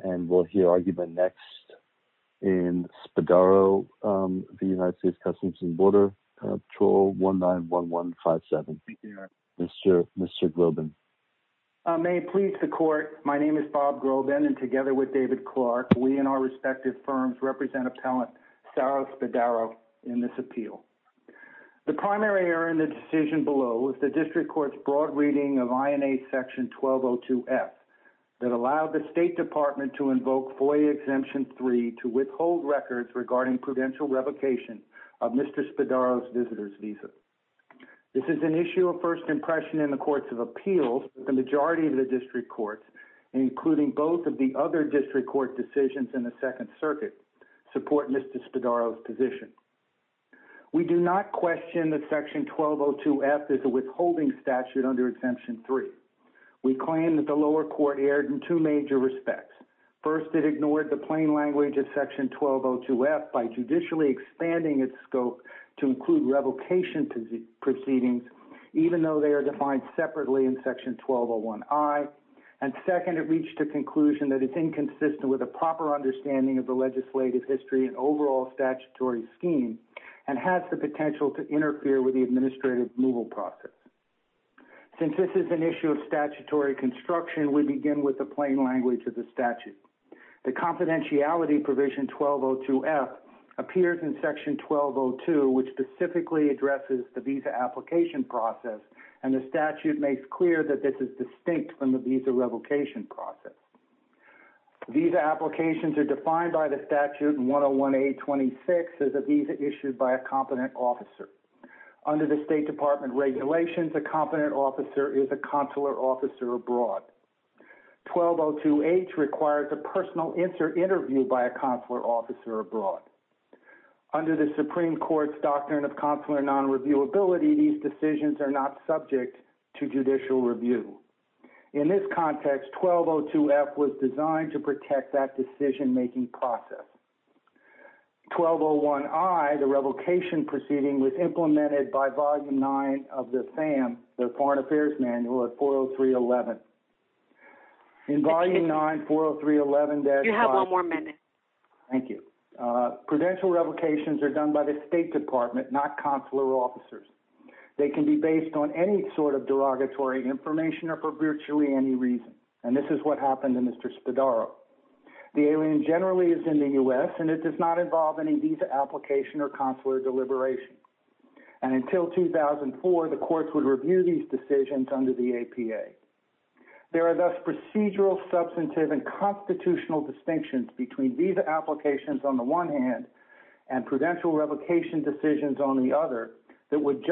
and we'll hear argument next in Spadaro v. United States Customs and Border, patrol 191157. Mr. Groban. May it please the court, my name is Bob Groban and together with David Clark, we and our respective firms represent appellant Sara Spadaro in this appeal. The primary error in the decision below was the district court's broad reading of INA section 1202F that allowed the state department to invoke FOIA exemption 3 to withhold records regarding prudential revocation of Mr. Spadaro's visitor's visa. This is an issue of first impression in the courts of appeals. The majority of the district courts, including both of the other district court decisions in the second circuit, support Mr. Spadaro's position. We do not question that section 1202F is a withholding statute under exemption 3. We claim that the lower court erred in two major respects. First, it ignored the plain language of section 1202F by judicially expanding its scope to include revocation proceedings, even though they are defined separately in section 1201I. And second, it reached a conclusion that it's inconsistent with a proper understanding of the legislative history and overall statutory scheme and has the administrative removal process. Since this is an issue of statutory construction, we begin with the plain language of the statute. The confidentiality provision 1202F appears in section 1202, which specifically addresses the visa application process, and the statute makes clear that this is distinct from the visa revocation process. Visa applications are defined by the statute in 101A26 as a visa issued by a competent officer. Under the State Department regulations, a competent officer is a consular officer abroad. 1202H requires a personal interview by a consular officer abroad. Under the Supreme Court's doctrine of consular nonreviewability, these decisions are not subject to judicial review. In this context, 1202F was designed to protect that decision-making process. 1201I, the revocation proceeding, was implemented by Volume 9 of the FAM, the Foreign Affairs Manual of 40311. In Volume 9, 40311, you have one more minute. Thank you. Prudential revocations are done by the State Department, not consular officers. They can be based on any sort of derogatory information or for virtually any reason. And this is what happened in Mr. Spadaro. The alien generally is in the U.S., and it does not involve any visa application or consular deliberation. And until 2004, the courts would review these decisions under the APA. There are thus procedural, substantive, and constitutional distinctions between visa applications on the one hand and prudential revocation decisions on the other that would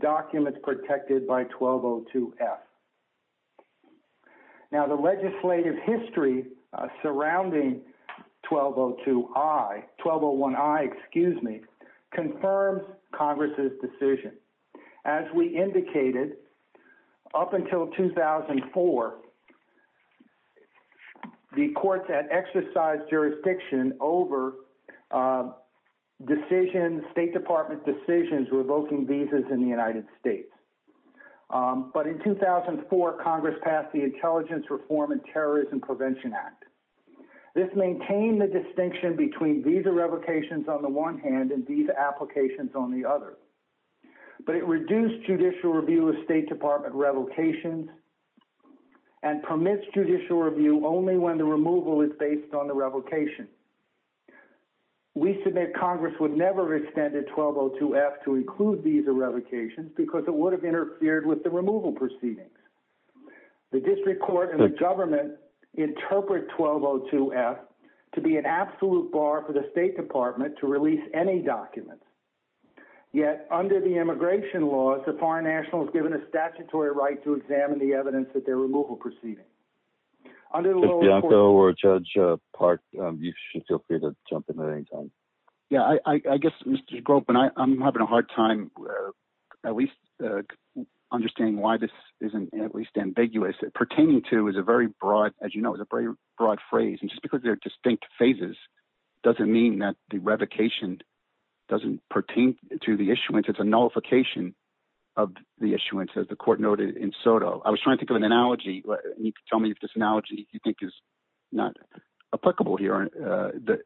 documents protected by 1202F. Now, the legislative history surrounding 1202I, 1201I, excuse me, confirms Congress' decision. As we indicated, up until 2004, the courts had exercised jurisdiction over decisions, State Department decisions revoking visas in the United States. But in 2004, Congress passed the Intelligence Reform and Terrorism Prevention Act. This maintained the distinction between visa revocations on the one hand and visa applications on the other. But it reduced judicial review of State Department revocations and permits judicial review only when the removal is based on the revocation. We submit Congress would never have extended 1202F to include visa revocations because it would have interfered with the removal proceedings. The district court and the government interpret 1202F to be an absolute bar for the State Department to release any documents. Yet, under the immigration laws, the foreign national is given a statutory right to examine the evidence at their removal proceedings. Under the law... Bianco or Judge Park, you should feel free to jump in at any time. Yeah, I guess, Mr. Gropen, I'm having a hard time at least understanding why this isn't at least ambiguous. Pertaining to is a very broad, as you know, is a very broad phrase. And just because they're distinct phases doesn't mean that the revocation doesn't pertain to the issuance. It's a nullification of the issuance, as the court noted in Soto. I was trying to think and you can tell me if this analogy you think is not applicable here.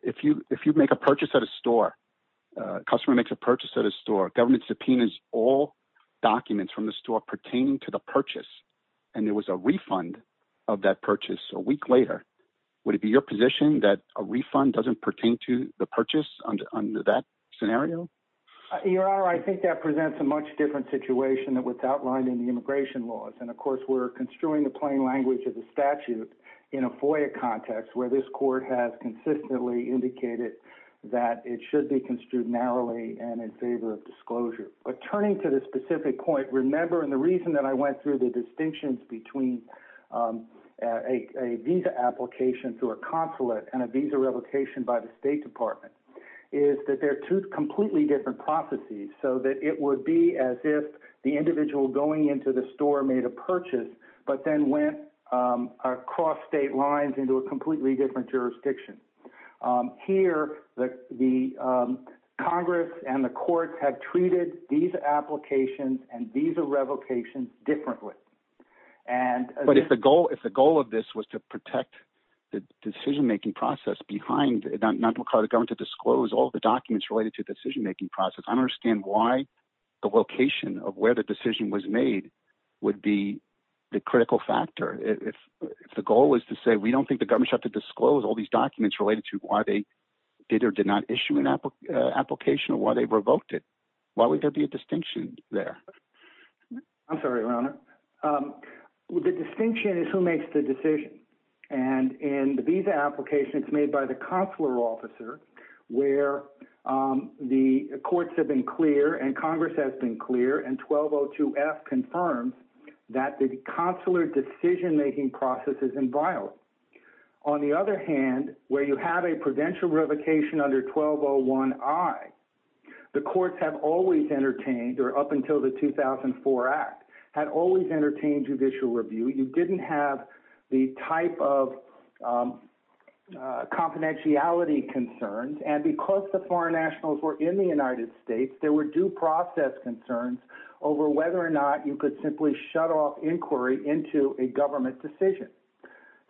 If you make a purchase at a store, a customer makes a purchase at a store, government subpoenas all documents from the store pertaining to the purchase, and there was a refund of that purchase a week later, would it be your position that a refund doesn't pertain to the purchase under that scenario? Your Honor, I think that presents a much different situation than what's outlined in the immigration laws. And of course, we're construing the plain language of the statute in a FOIA context where this court has consistently indicated that it should be construed narrowly and in favor of disclosure. But turning to the specific point, remember, and the reason that I went through the distinctions between a visa application to a consulate and a visa revocation by the State Department is that they're two completely different processes, so that it would be as if the individual going into the store made a purchase but then went across state lines into a completely different jurisdiction. Here, the Congress and the courts have treated visa applications and visa revocations differently. But if the goal of this was to protect the decision-making process behind, not to call the documents related to the decision-making process, I understand why the location of where the decision was made would be the critical factor. If the goal was to say, we don't think the government should have to disclose all these documents related to why they did or did not issue an application or why they revoked it, why would there be a distinction there? I'm sorry, Your Honor. The distinction is who makes the decision. And in the visa application, it's made by the consular officer where the courts have been clear and Congress has been clear and 1202F confirms that the consular decision-making process is inviolable. On the other hand, where you have a provincial revocation under 1201I, the courts have always entertained, or up until the 2004 Act, had always entertained judicial review. You didn't have the type of confidentiality concerns. And because the foreign nationals were in the United States, there were due process concerns over whether or not you could simply shut off inquiry into a government decision.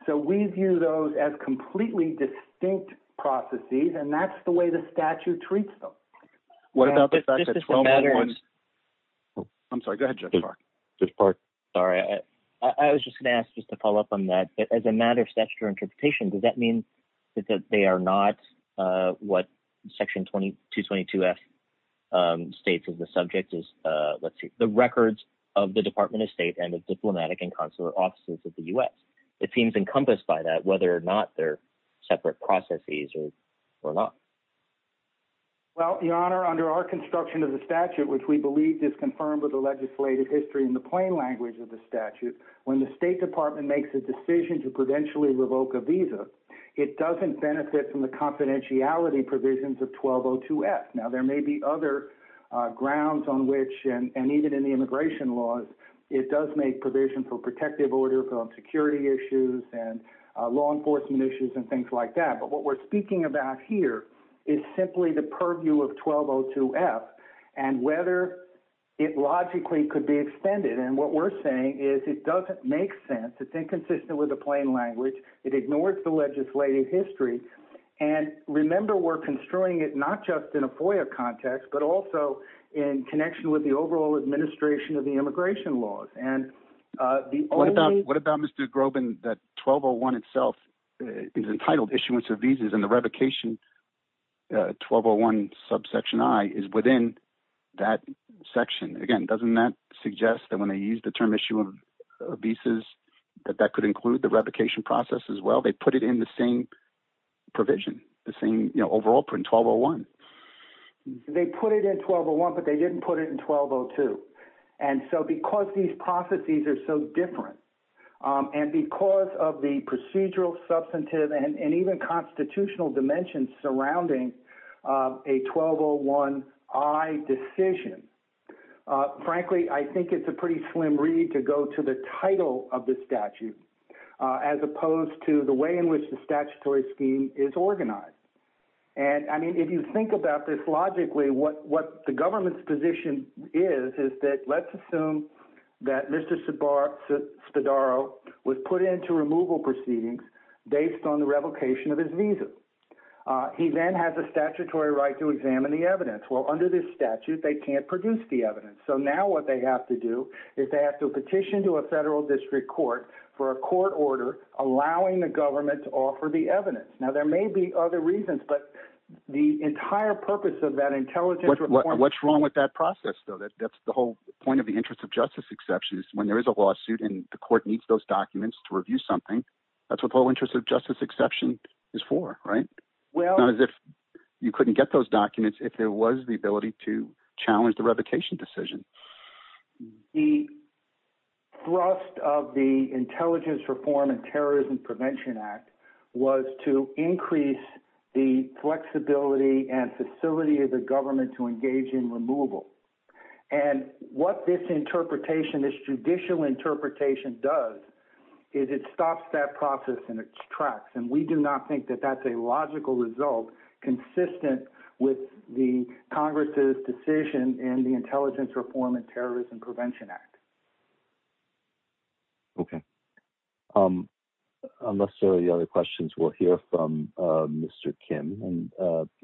So we view those as completely distinct processes and that's the way the statute treats them. What about the fact that 1201... I'm sorry, go ahead, Judge Park. Judge Park. Sorry. I was just going to ask just to follow up on that. As a matter of interpretation, does that mean that they are not what Section 222F states as the subject is, the records of the Department of State and the diplomatic and consular offices of the U.S.? It seems encompassed by that, whether or not they're separate processes or not. Well, Your Honor, under our construction of the statute, which we believe is confirmed with the legislative history in the plain language of the statute, when the State Department makes a revoke a visa, it doesn't benefit from the confidentiality provisions of 1202F. Now, there may be other grounds on which, and even in the immigration laws, it does make provision for protective order, for security issues and law enforcement issues and things like that. But what we're speaking about here is simply the purview of 1202F and whether it logically could be extended. And what we're saying is it doesn't make sense. It's inconsistent with the plain language. It ignores the legislative history. And remember, we're construing it not just in a FOIA context, but also in connection with the overall administration of the immigration laws. What about Mr. Groban, that 1201 itself is entitled issuance of visas and the revocation 1201 subsection I is within that section. Again, doesn't that suggest that when they use the term issue of visas, that that could include the revocation process as well? They put it in the same provision, the same overall print 1201. They put it in 1201, but they didn't put it in 1202. And so because these processes are so different and because of the procedural, substantive and even constitutional dimensions surrounding a 1201I decision, frankly, I think it's a pretty slim read to go to the title of the statute, as opposed to the way in which the statutory scheme is organized. And I mean, if you think about this logically, what the government's position is, is that let's assume that Mr. Spadaro was put into removal proceedings based on the revocation of his visa. He then has a statutory right to examine the evidence. Well, under this statute, they can't produce the evidence. So now what they have to do is they have to petition to a federal district court for a court order, allowing the government to offer the evidence. Now there may be other reasons, but the entire purpose of that intelligence What's wrong with that process though? That's the whole point of the interest of justice exception when there is a lawsuit and the court needs those documents to review something. That's what the whole interest of justice exception is for, right? Not as if you couldn't get those documents if there was the ability to challenge the revocation decision. The thrust of the Intelligence Reform and Terrorism Prevention Act was to increase the flexibility and facility of the government to engage in removal. And what this interpretation judicial interpretation does is it stops that process in its tracks. And we do not think that that's a logical result consistent with the Congress's decision in the Intelligence Reform and Terrorism Prevention Act. Okay. Unless there are any other questions, we'll hear from Mr. Kim and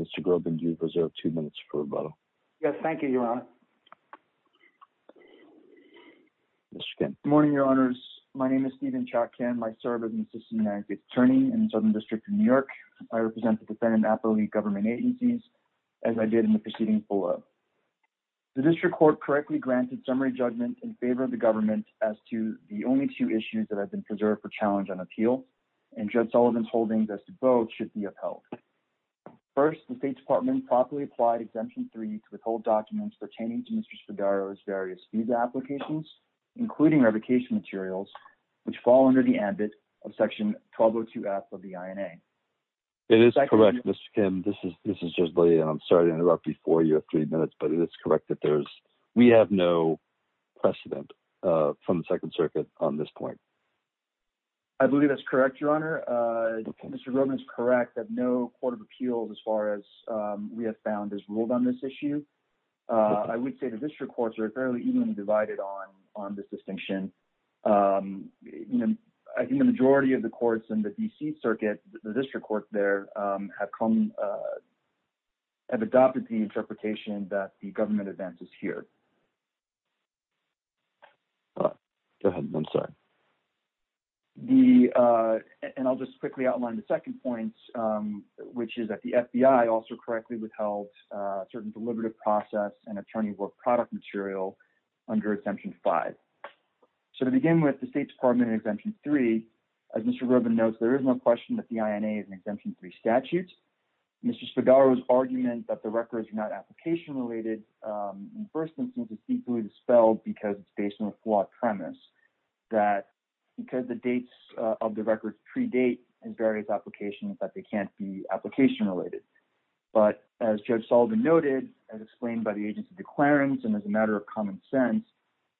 Mr. Groban, you've reserved two minutes for rebuttal. Yes. Thank you, Your Honor. Mr. Kim. Good morning, Your Honors. My name is Stephen Chotkin. I serve as an assistant United States Attorney in the Southern District of New York. I represent the defendant appellate government agencies, as I did in the proceeding below. The district court correctly granted summary judgment in favor of the government as to the only two issues that have been preserved for First, the State Department properly applied Exemption 3 to withhold documents pertaining to Mr. Spadaro's various visa applications, including revocation materials, which fall under the ambit of Section 1202F of the INA. It is correct, Mr. Kim. This is just, I'm sorry to interrupt before you have three minutes, but it is correct that we have no precedent from the Second Circuit on this point. I believe that's correct, Your Honor. Mr. Groban is correct that no court of appeals, as far as we have found, has ruled on this issue. I would say the district courts are fairly evenly divided on this distinction. I think the majority of the courts in the D.C. Circuit, the district courts there, have adopted the interpretation that the second point, which is that the FBI also correctly withheld certain deliberative process and attorney work product material under Exemption 5. So to begin with, the State Department in Exemption 3, as Mr. Groban notes, there is no question that the INA is an Exemption 3 statute. Mr. Spadaro's argument that the records are not application related in the first instance is deeply dispelled because it's based on a flawed premise, that because the dates of the records predate his applications, that they can't be application related. But as Judge Sullivan noted, as explained by the agency declarants, and as a matter of common sense,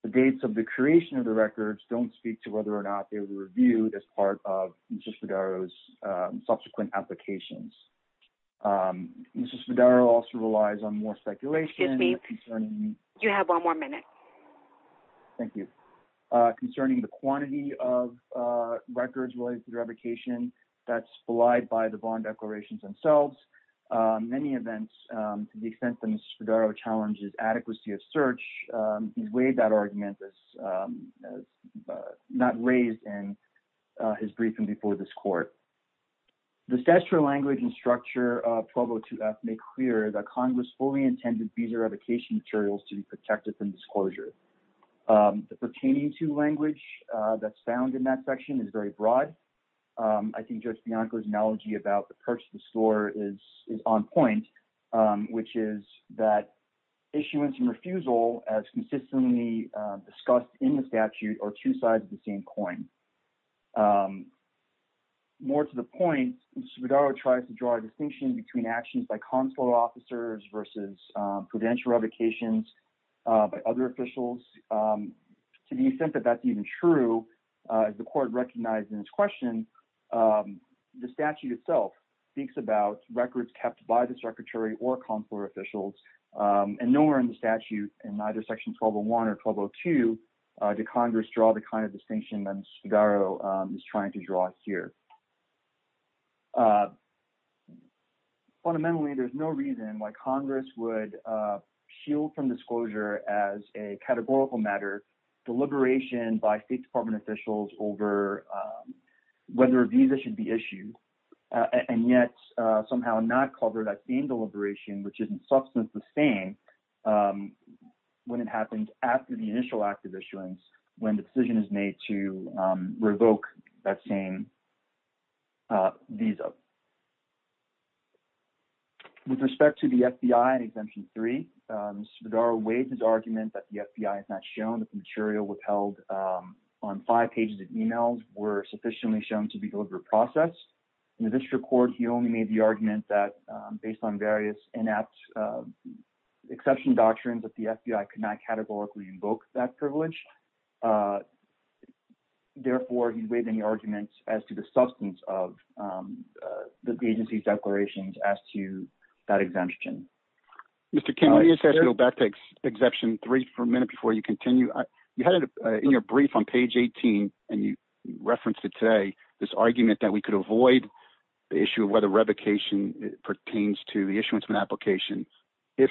the dates of the creation of the records don't speak to whether or not they were reviewed as part of Mr. Spadaro's subsequent applications. Mr. Spadaro also relies on more speculation. Excuse me. You have one more minute. Thank you. Concerning the quantity of records related to revocation, that's belied by the bond declarations themselves. Many events, to the extent that Mr. Spadaro challenges adequacy of search, he's weighed that argument. It's not raised in his briefing before this court. The statutory language and structure of 1202F make clear that Congress fully intended visa revocation materials to be protected from disclosure. The pertaining to language that's found in that section is very broad. I think Judge Bianco's analogy about the purse of the store is on point, which is that issuance and refusal, as consistently discussed in the statute, are two sides of the same coin. More to the point, Mr. Spadaro tries to draw a distinction between actions by consular officers versus prudential revocations by other officials. To the extent that that's even true, the court recognized in its question, the statute itself speaks about records kept by the secretary or consular officials, and nowhere in the statute, in either section 1201 or 1202, did Congress draw the kind of distinction that Mr. Spadaro is trying to draw here. Fundamentally, there's no reason why Congress would shield from disclosure as a categorical matter, deliberation by State Department officials over whether a visa should be issued, and yet somehow not cover that same deliberation, which is in substance the same when it happens after the initial act of issuance, when the decision is made to revoke that same visa. With respect to the FBI Exemption 3, Mr. Spadaro waived his argument that the FBI has not shown that the material withheld on five pages of emails were sufficiently shown to be deliberate process. In the district court, he only made the argument that, based on various inept exception doctrines, that the FBI could not categorically invoke that privilege. Therefore, he waived any arguments as to the substance of the agency's declarations as to that exemption. Mr. King, let me ask you to go back to Exemption 3 for a minute before you continue. You had it in your brief on page 18, and you referenced it today, this argument that we could avoid the issue of whether revocation pertains to the issuance of an application if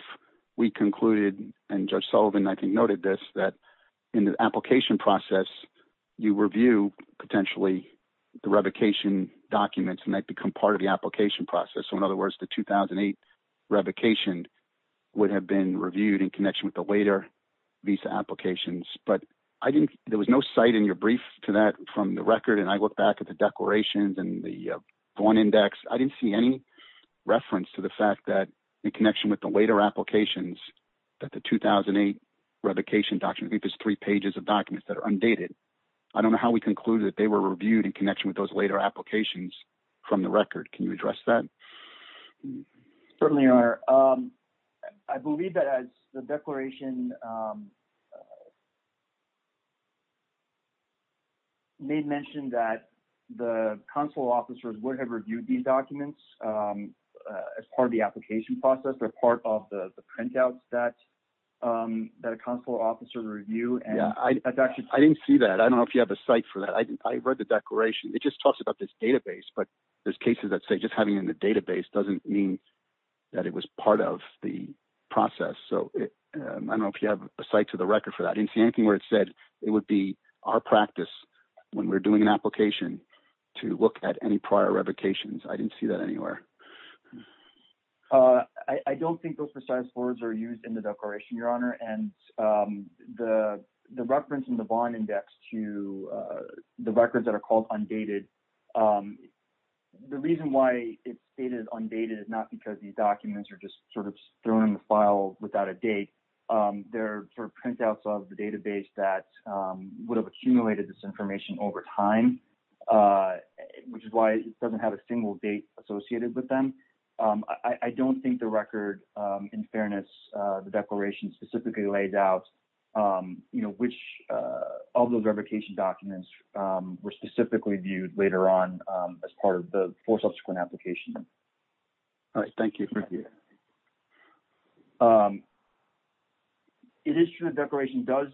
we concluded, and Judge Sullivan, I think, noted this, that in the application process, you review potentially the revocation documents, and they become part of the application process. So, in other words, the 2008 revocation would have been reviewed in connection with the later visa applications. But there was no site in your brief to that from the record, and I looked back at the declarations and the Vaughn Index. I didn't see any reference to the fact that, in connection with the later applications, that the 2008 revocation document, I think it's three pages of documents that are undated. I don't know how we concluded that they were reviewed in connection with those later applications from the record. Can you address that? We certainly are. I believe that the declaration made mention that the consular officers would have reviewed these documents as part of the application process. They're part of the printouts that a consular officer would review. I didn't see that. I don't know if you have a site for that. I read the declaration. It just talks about this database, but there's cases that say just having it in the database doesn't mean that it was part of the process. So, I don't know if you have a site to the record for that. I didn't see anything where it said it would be our practice when we're doing an application to look at any prior revocations. I didn't see that anywhere. I don't think those precise words are used in the declaration, Your Honor. And the reference in the bond index to the records that are called undated, the reason why it's stated undated is not because these documents are just sort of thrown in the file without a date. They're sort of printouts of the database that would have accumulated this information over time, which is why it doesn't have a single date associated with them. I don't think the record, in fairness, the declaration specifically laid out which of those revocation documents were specifically viewed later on as part of the four subsequent applications. All right. Thank you. Thank you. It is true the declaration does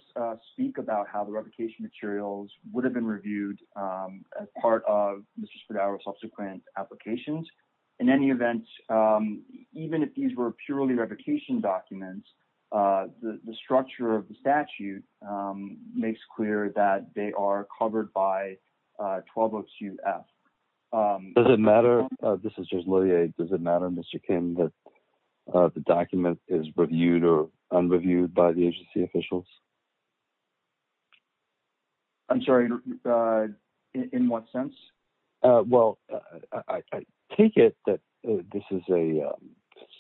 speak about how the revocation materials would have been reviewed as part of Mr. Spadaro's subsequent applications. In any event, even if these were purely revocation documents, the structure of the statute makes clear that they are covered by 1202F. Does it matter, this is just Lillie, does it matter, Mr. Kim, that the document is reviewed or unreviewed by the agency officials? I'm sorry. In what sense? Well, I take it that this is a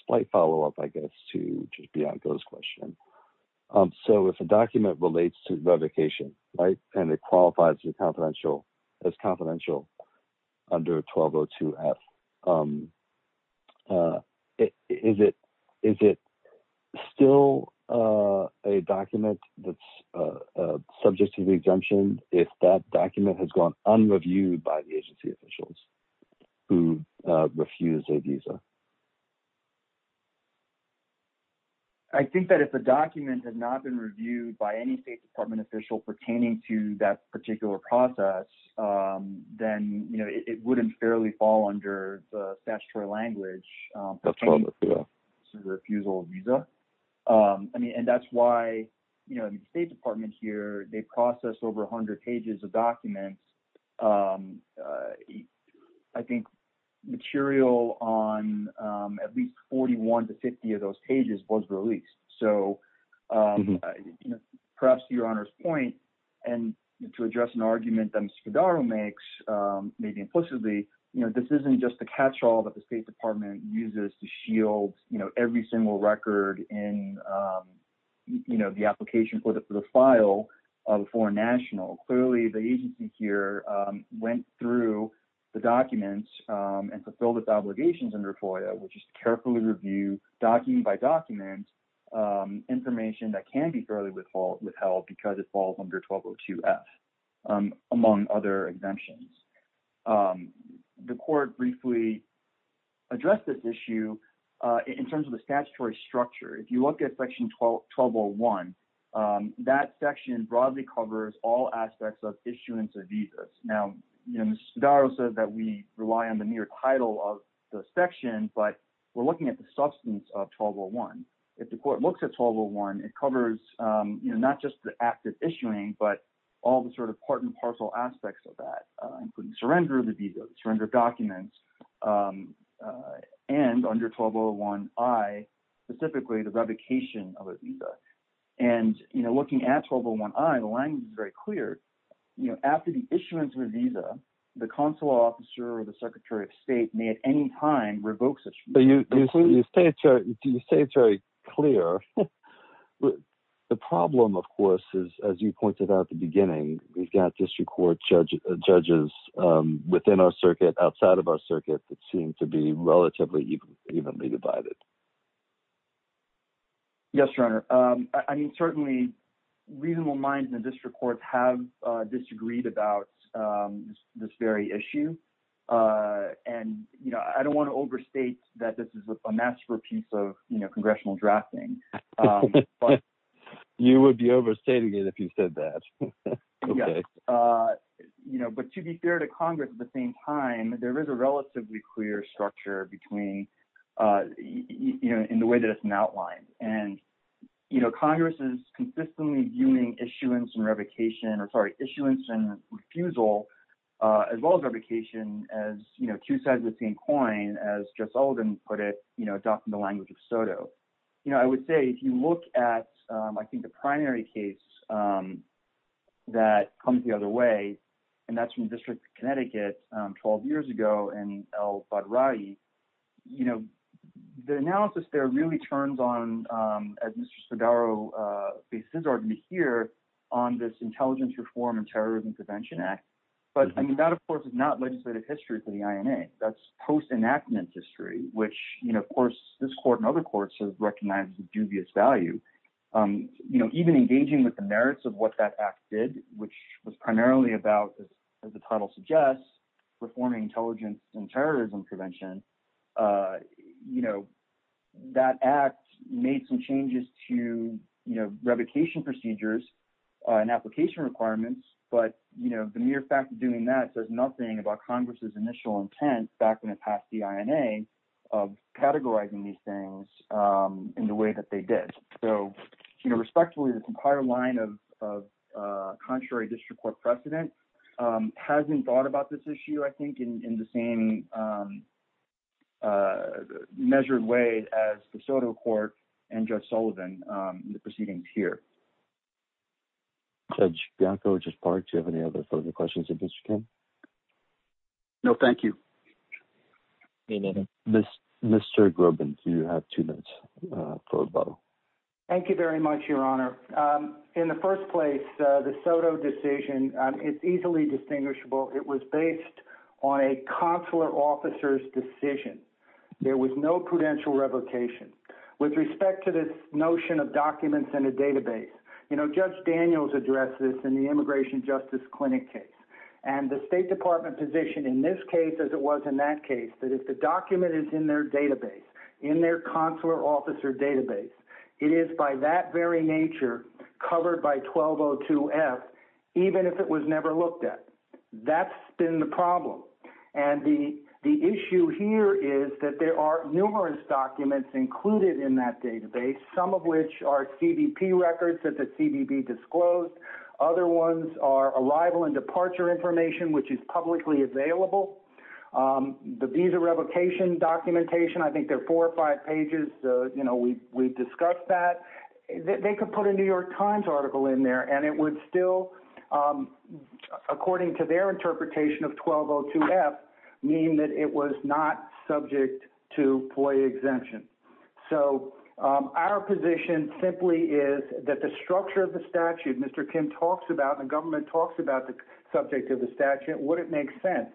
slight follow-up, I guess, to just Bianca's question. So, if a document relates to revocation, right, and it qualifies as confidential under 1202F, is it still a document that's subject to the exemption if that document has gone unreviewed by the agency officials who refused a visa? I think that if a document had not been reviewed by any State Department official pertaining to that particular process, then it wouldn't fairly fall under the statutory language pertaining to the refusal of visa. And that's why the State Department here, they processed over 100 pages of documents. I think material on at least 41 to 50 of those to address an argument that Mr. Cordaro makes, maybe implicitly, this isn't just a catch-all that the State Department uses to shield every single record in the application for the file of a foreign national. Clearly, the agency here went through the documents and fulfilled its obligations under FOIA, which is to carefully review, document by document, information that can be fairly withheld because it falls under 1202F, among other exemptions. The court briefly addressed this issue in terms of the statutory structure. If you look at Section 1201, that section broadly covers all aspects of issuance of visas. Now, Mr. Cordaro says that we rely on the mere title of the section, but we're looking at the substance of 1201. If the court looks at 1201, it covers not just the active issuing, but all the sort of part and parcel aspects of that, including surrender of the visa, surrender of documents, and under 1201I, specifically the revocation of a visa. And looking at 1201I, the language is very clear. After the issuance of a visa, the consular officer or the Secretary of State may at any time revoke the visa. Do you say it's very clear? The problem, of course, is, as you pointed out at the beginning, we've got district court judges within our circuit, outside of our circuit, that seem to be relatively evenly divided. Yes, Your Honor. I mean, certainly, reasonable minds in the district courts have disagreed about this very issue. And I don't want to overstate that this is a masterpiece of congressional drafting. You would be overstating it if you said that. Yes. But to be fair to Congress, at the same time, there is a relatively clear structure in the way that it's been outlined. And Congress is consistently viewing issuance and refusal as well as revocation as two sides of the same coin, as Jeff Sullivan put it, adopting the language of SOTO. I would say, if you look at, I think, the primary case that comes the other way, and that's from the District of Connecticut 12 years ago, and El-Badrayi, the analysis there really turns on, as Mr. Spadaro bases his argument here, on this Intelligence Reform and Terrorism Prevention Act. But, I mean, that, of course, is not legislative history for the INA. That's post-enactment history, which, of course, this court and other courts have recognized as a dubious value. Even engaging with the merits of that act did, which was primarily about, as the title suggests, reforming intelligence and terrorism prevention, that act made some changes to revocation procedures and application requirements. But the mere fact of doing that says nothing about Congress's initial intent back when it passed the INA of categorizing these things in the way that they did. So, respectfully, the entire line of contrary District Court precedent hasn't thought about this issue, I think, in the same measured way as the SOTO Court and Judge Sullivan in the proceedings here. Judge Bianco, Judge Park, do you have any other further questions of Mr. Kim? No, thank you. Mr. Grubin, you have two minutes for rebuttal. Thank you very much, Your Honor. In the first place, the SOTO decision is easily distinguishable. It was based on a consular officer's decision. There was no prudential revocation. With respect to this notion of documents in a database, you know, Judge Daniels addressed this in the Immigration Justice Clinic case. And the State Department position in this case, as it was in that case, that if the document is in their database, in their consular officer database, it is by that very nature covered by 1202F, even if it was never looked at. That's been the problem. And the issue here is that there are numerous documents included in that database, some of which are CBP records that the CBP disclosed. Other ones are arrival and departure information, which is publicly available. The visa revocation documentation, I think they're four or five pages. You know, we discussed that. They could put a New York Times article in there and it would still, according to their interpretation of 1202F, mean that it was not subject to FOIA exemption. So our position simply is that the structure of the statute, Mr. Kim talks about, the government talks about the subject of the statute, would it make sense.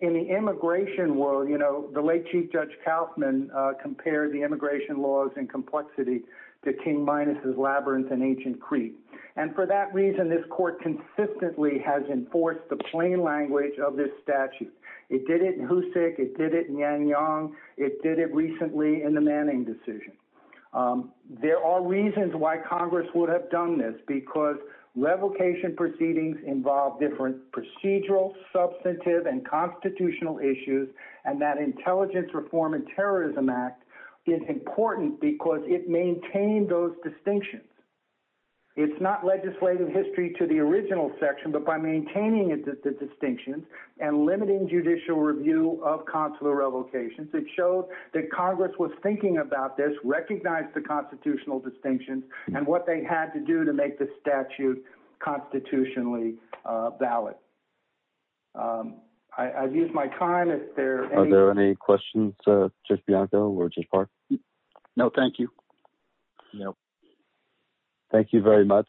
In the immigration world, you know, the late Chief Judge Kauffman compared the immigration laws and complexity to King Minus's Labyrinth in Ancient Crete. And for that reason, this court consistently has enforced the plain language of this statute. It did it in Houssik, it did it in Nanyang, it did it recently in the Manning decision. There are reasons why Congress would have done this, because revocation proceedings involve different procedural, substantive, and constitutional issues, and that Intelligence Reform and Terrorism Act is important because it maintained those distinctions. It's not legislative history to the original section, but by maintaining the distinctions and limiting judicial review of consular revocations, it showed that Congress was thinking about this, recognized the constitutional distinctions, and what they had to do to make the statute constitutionally valid. I've used my time. Are there any questions, Judge Bianco or Judge Park? No, thank you. No, thank you very much.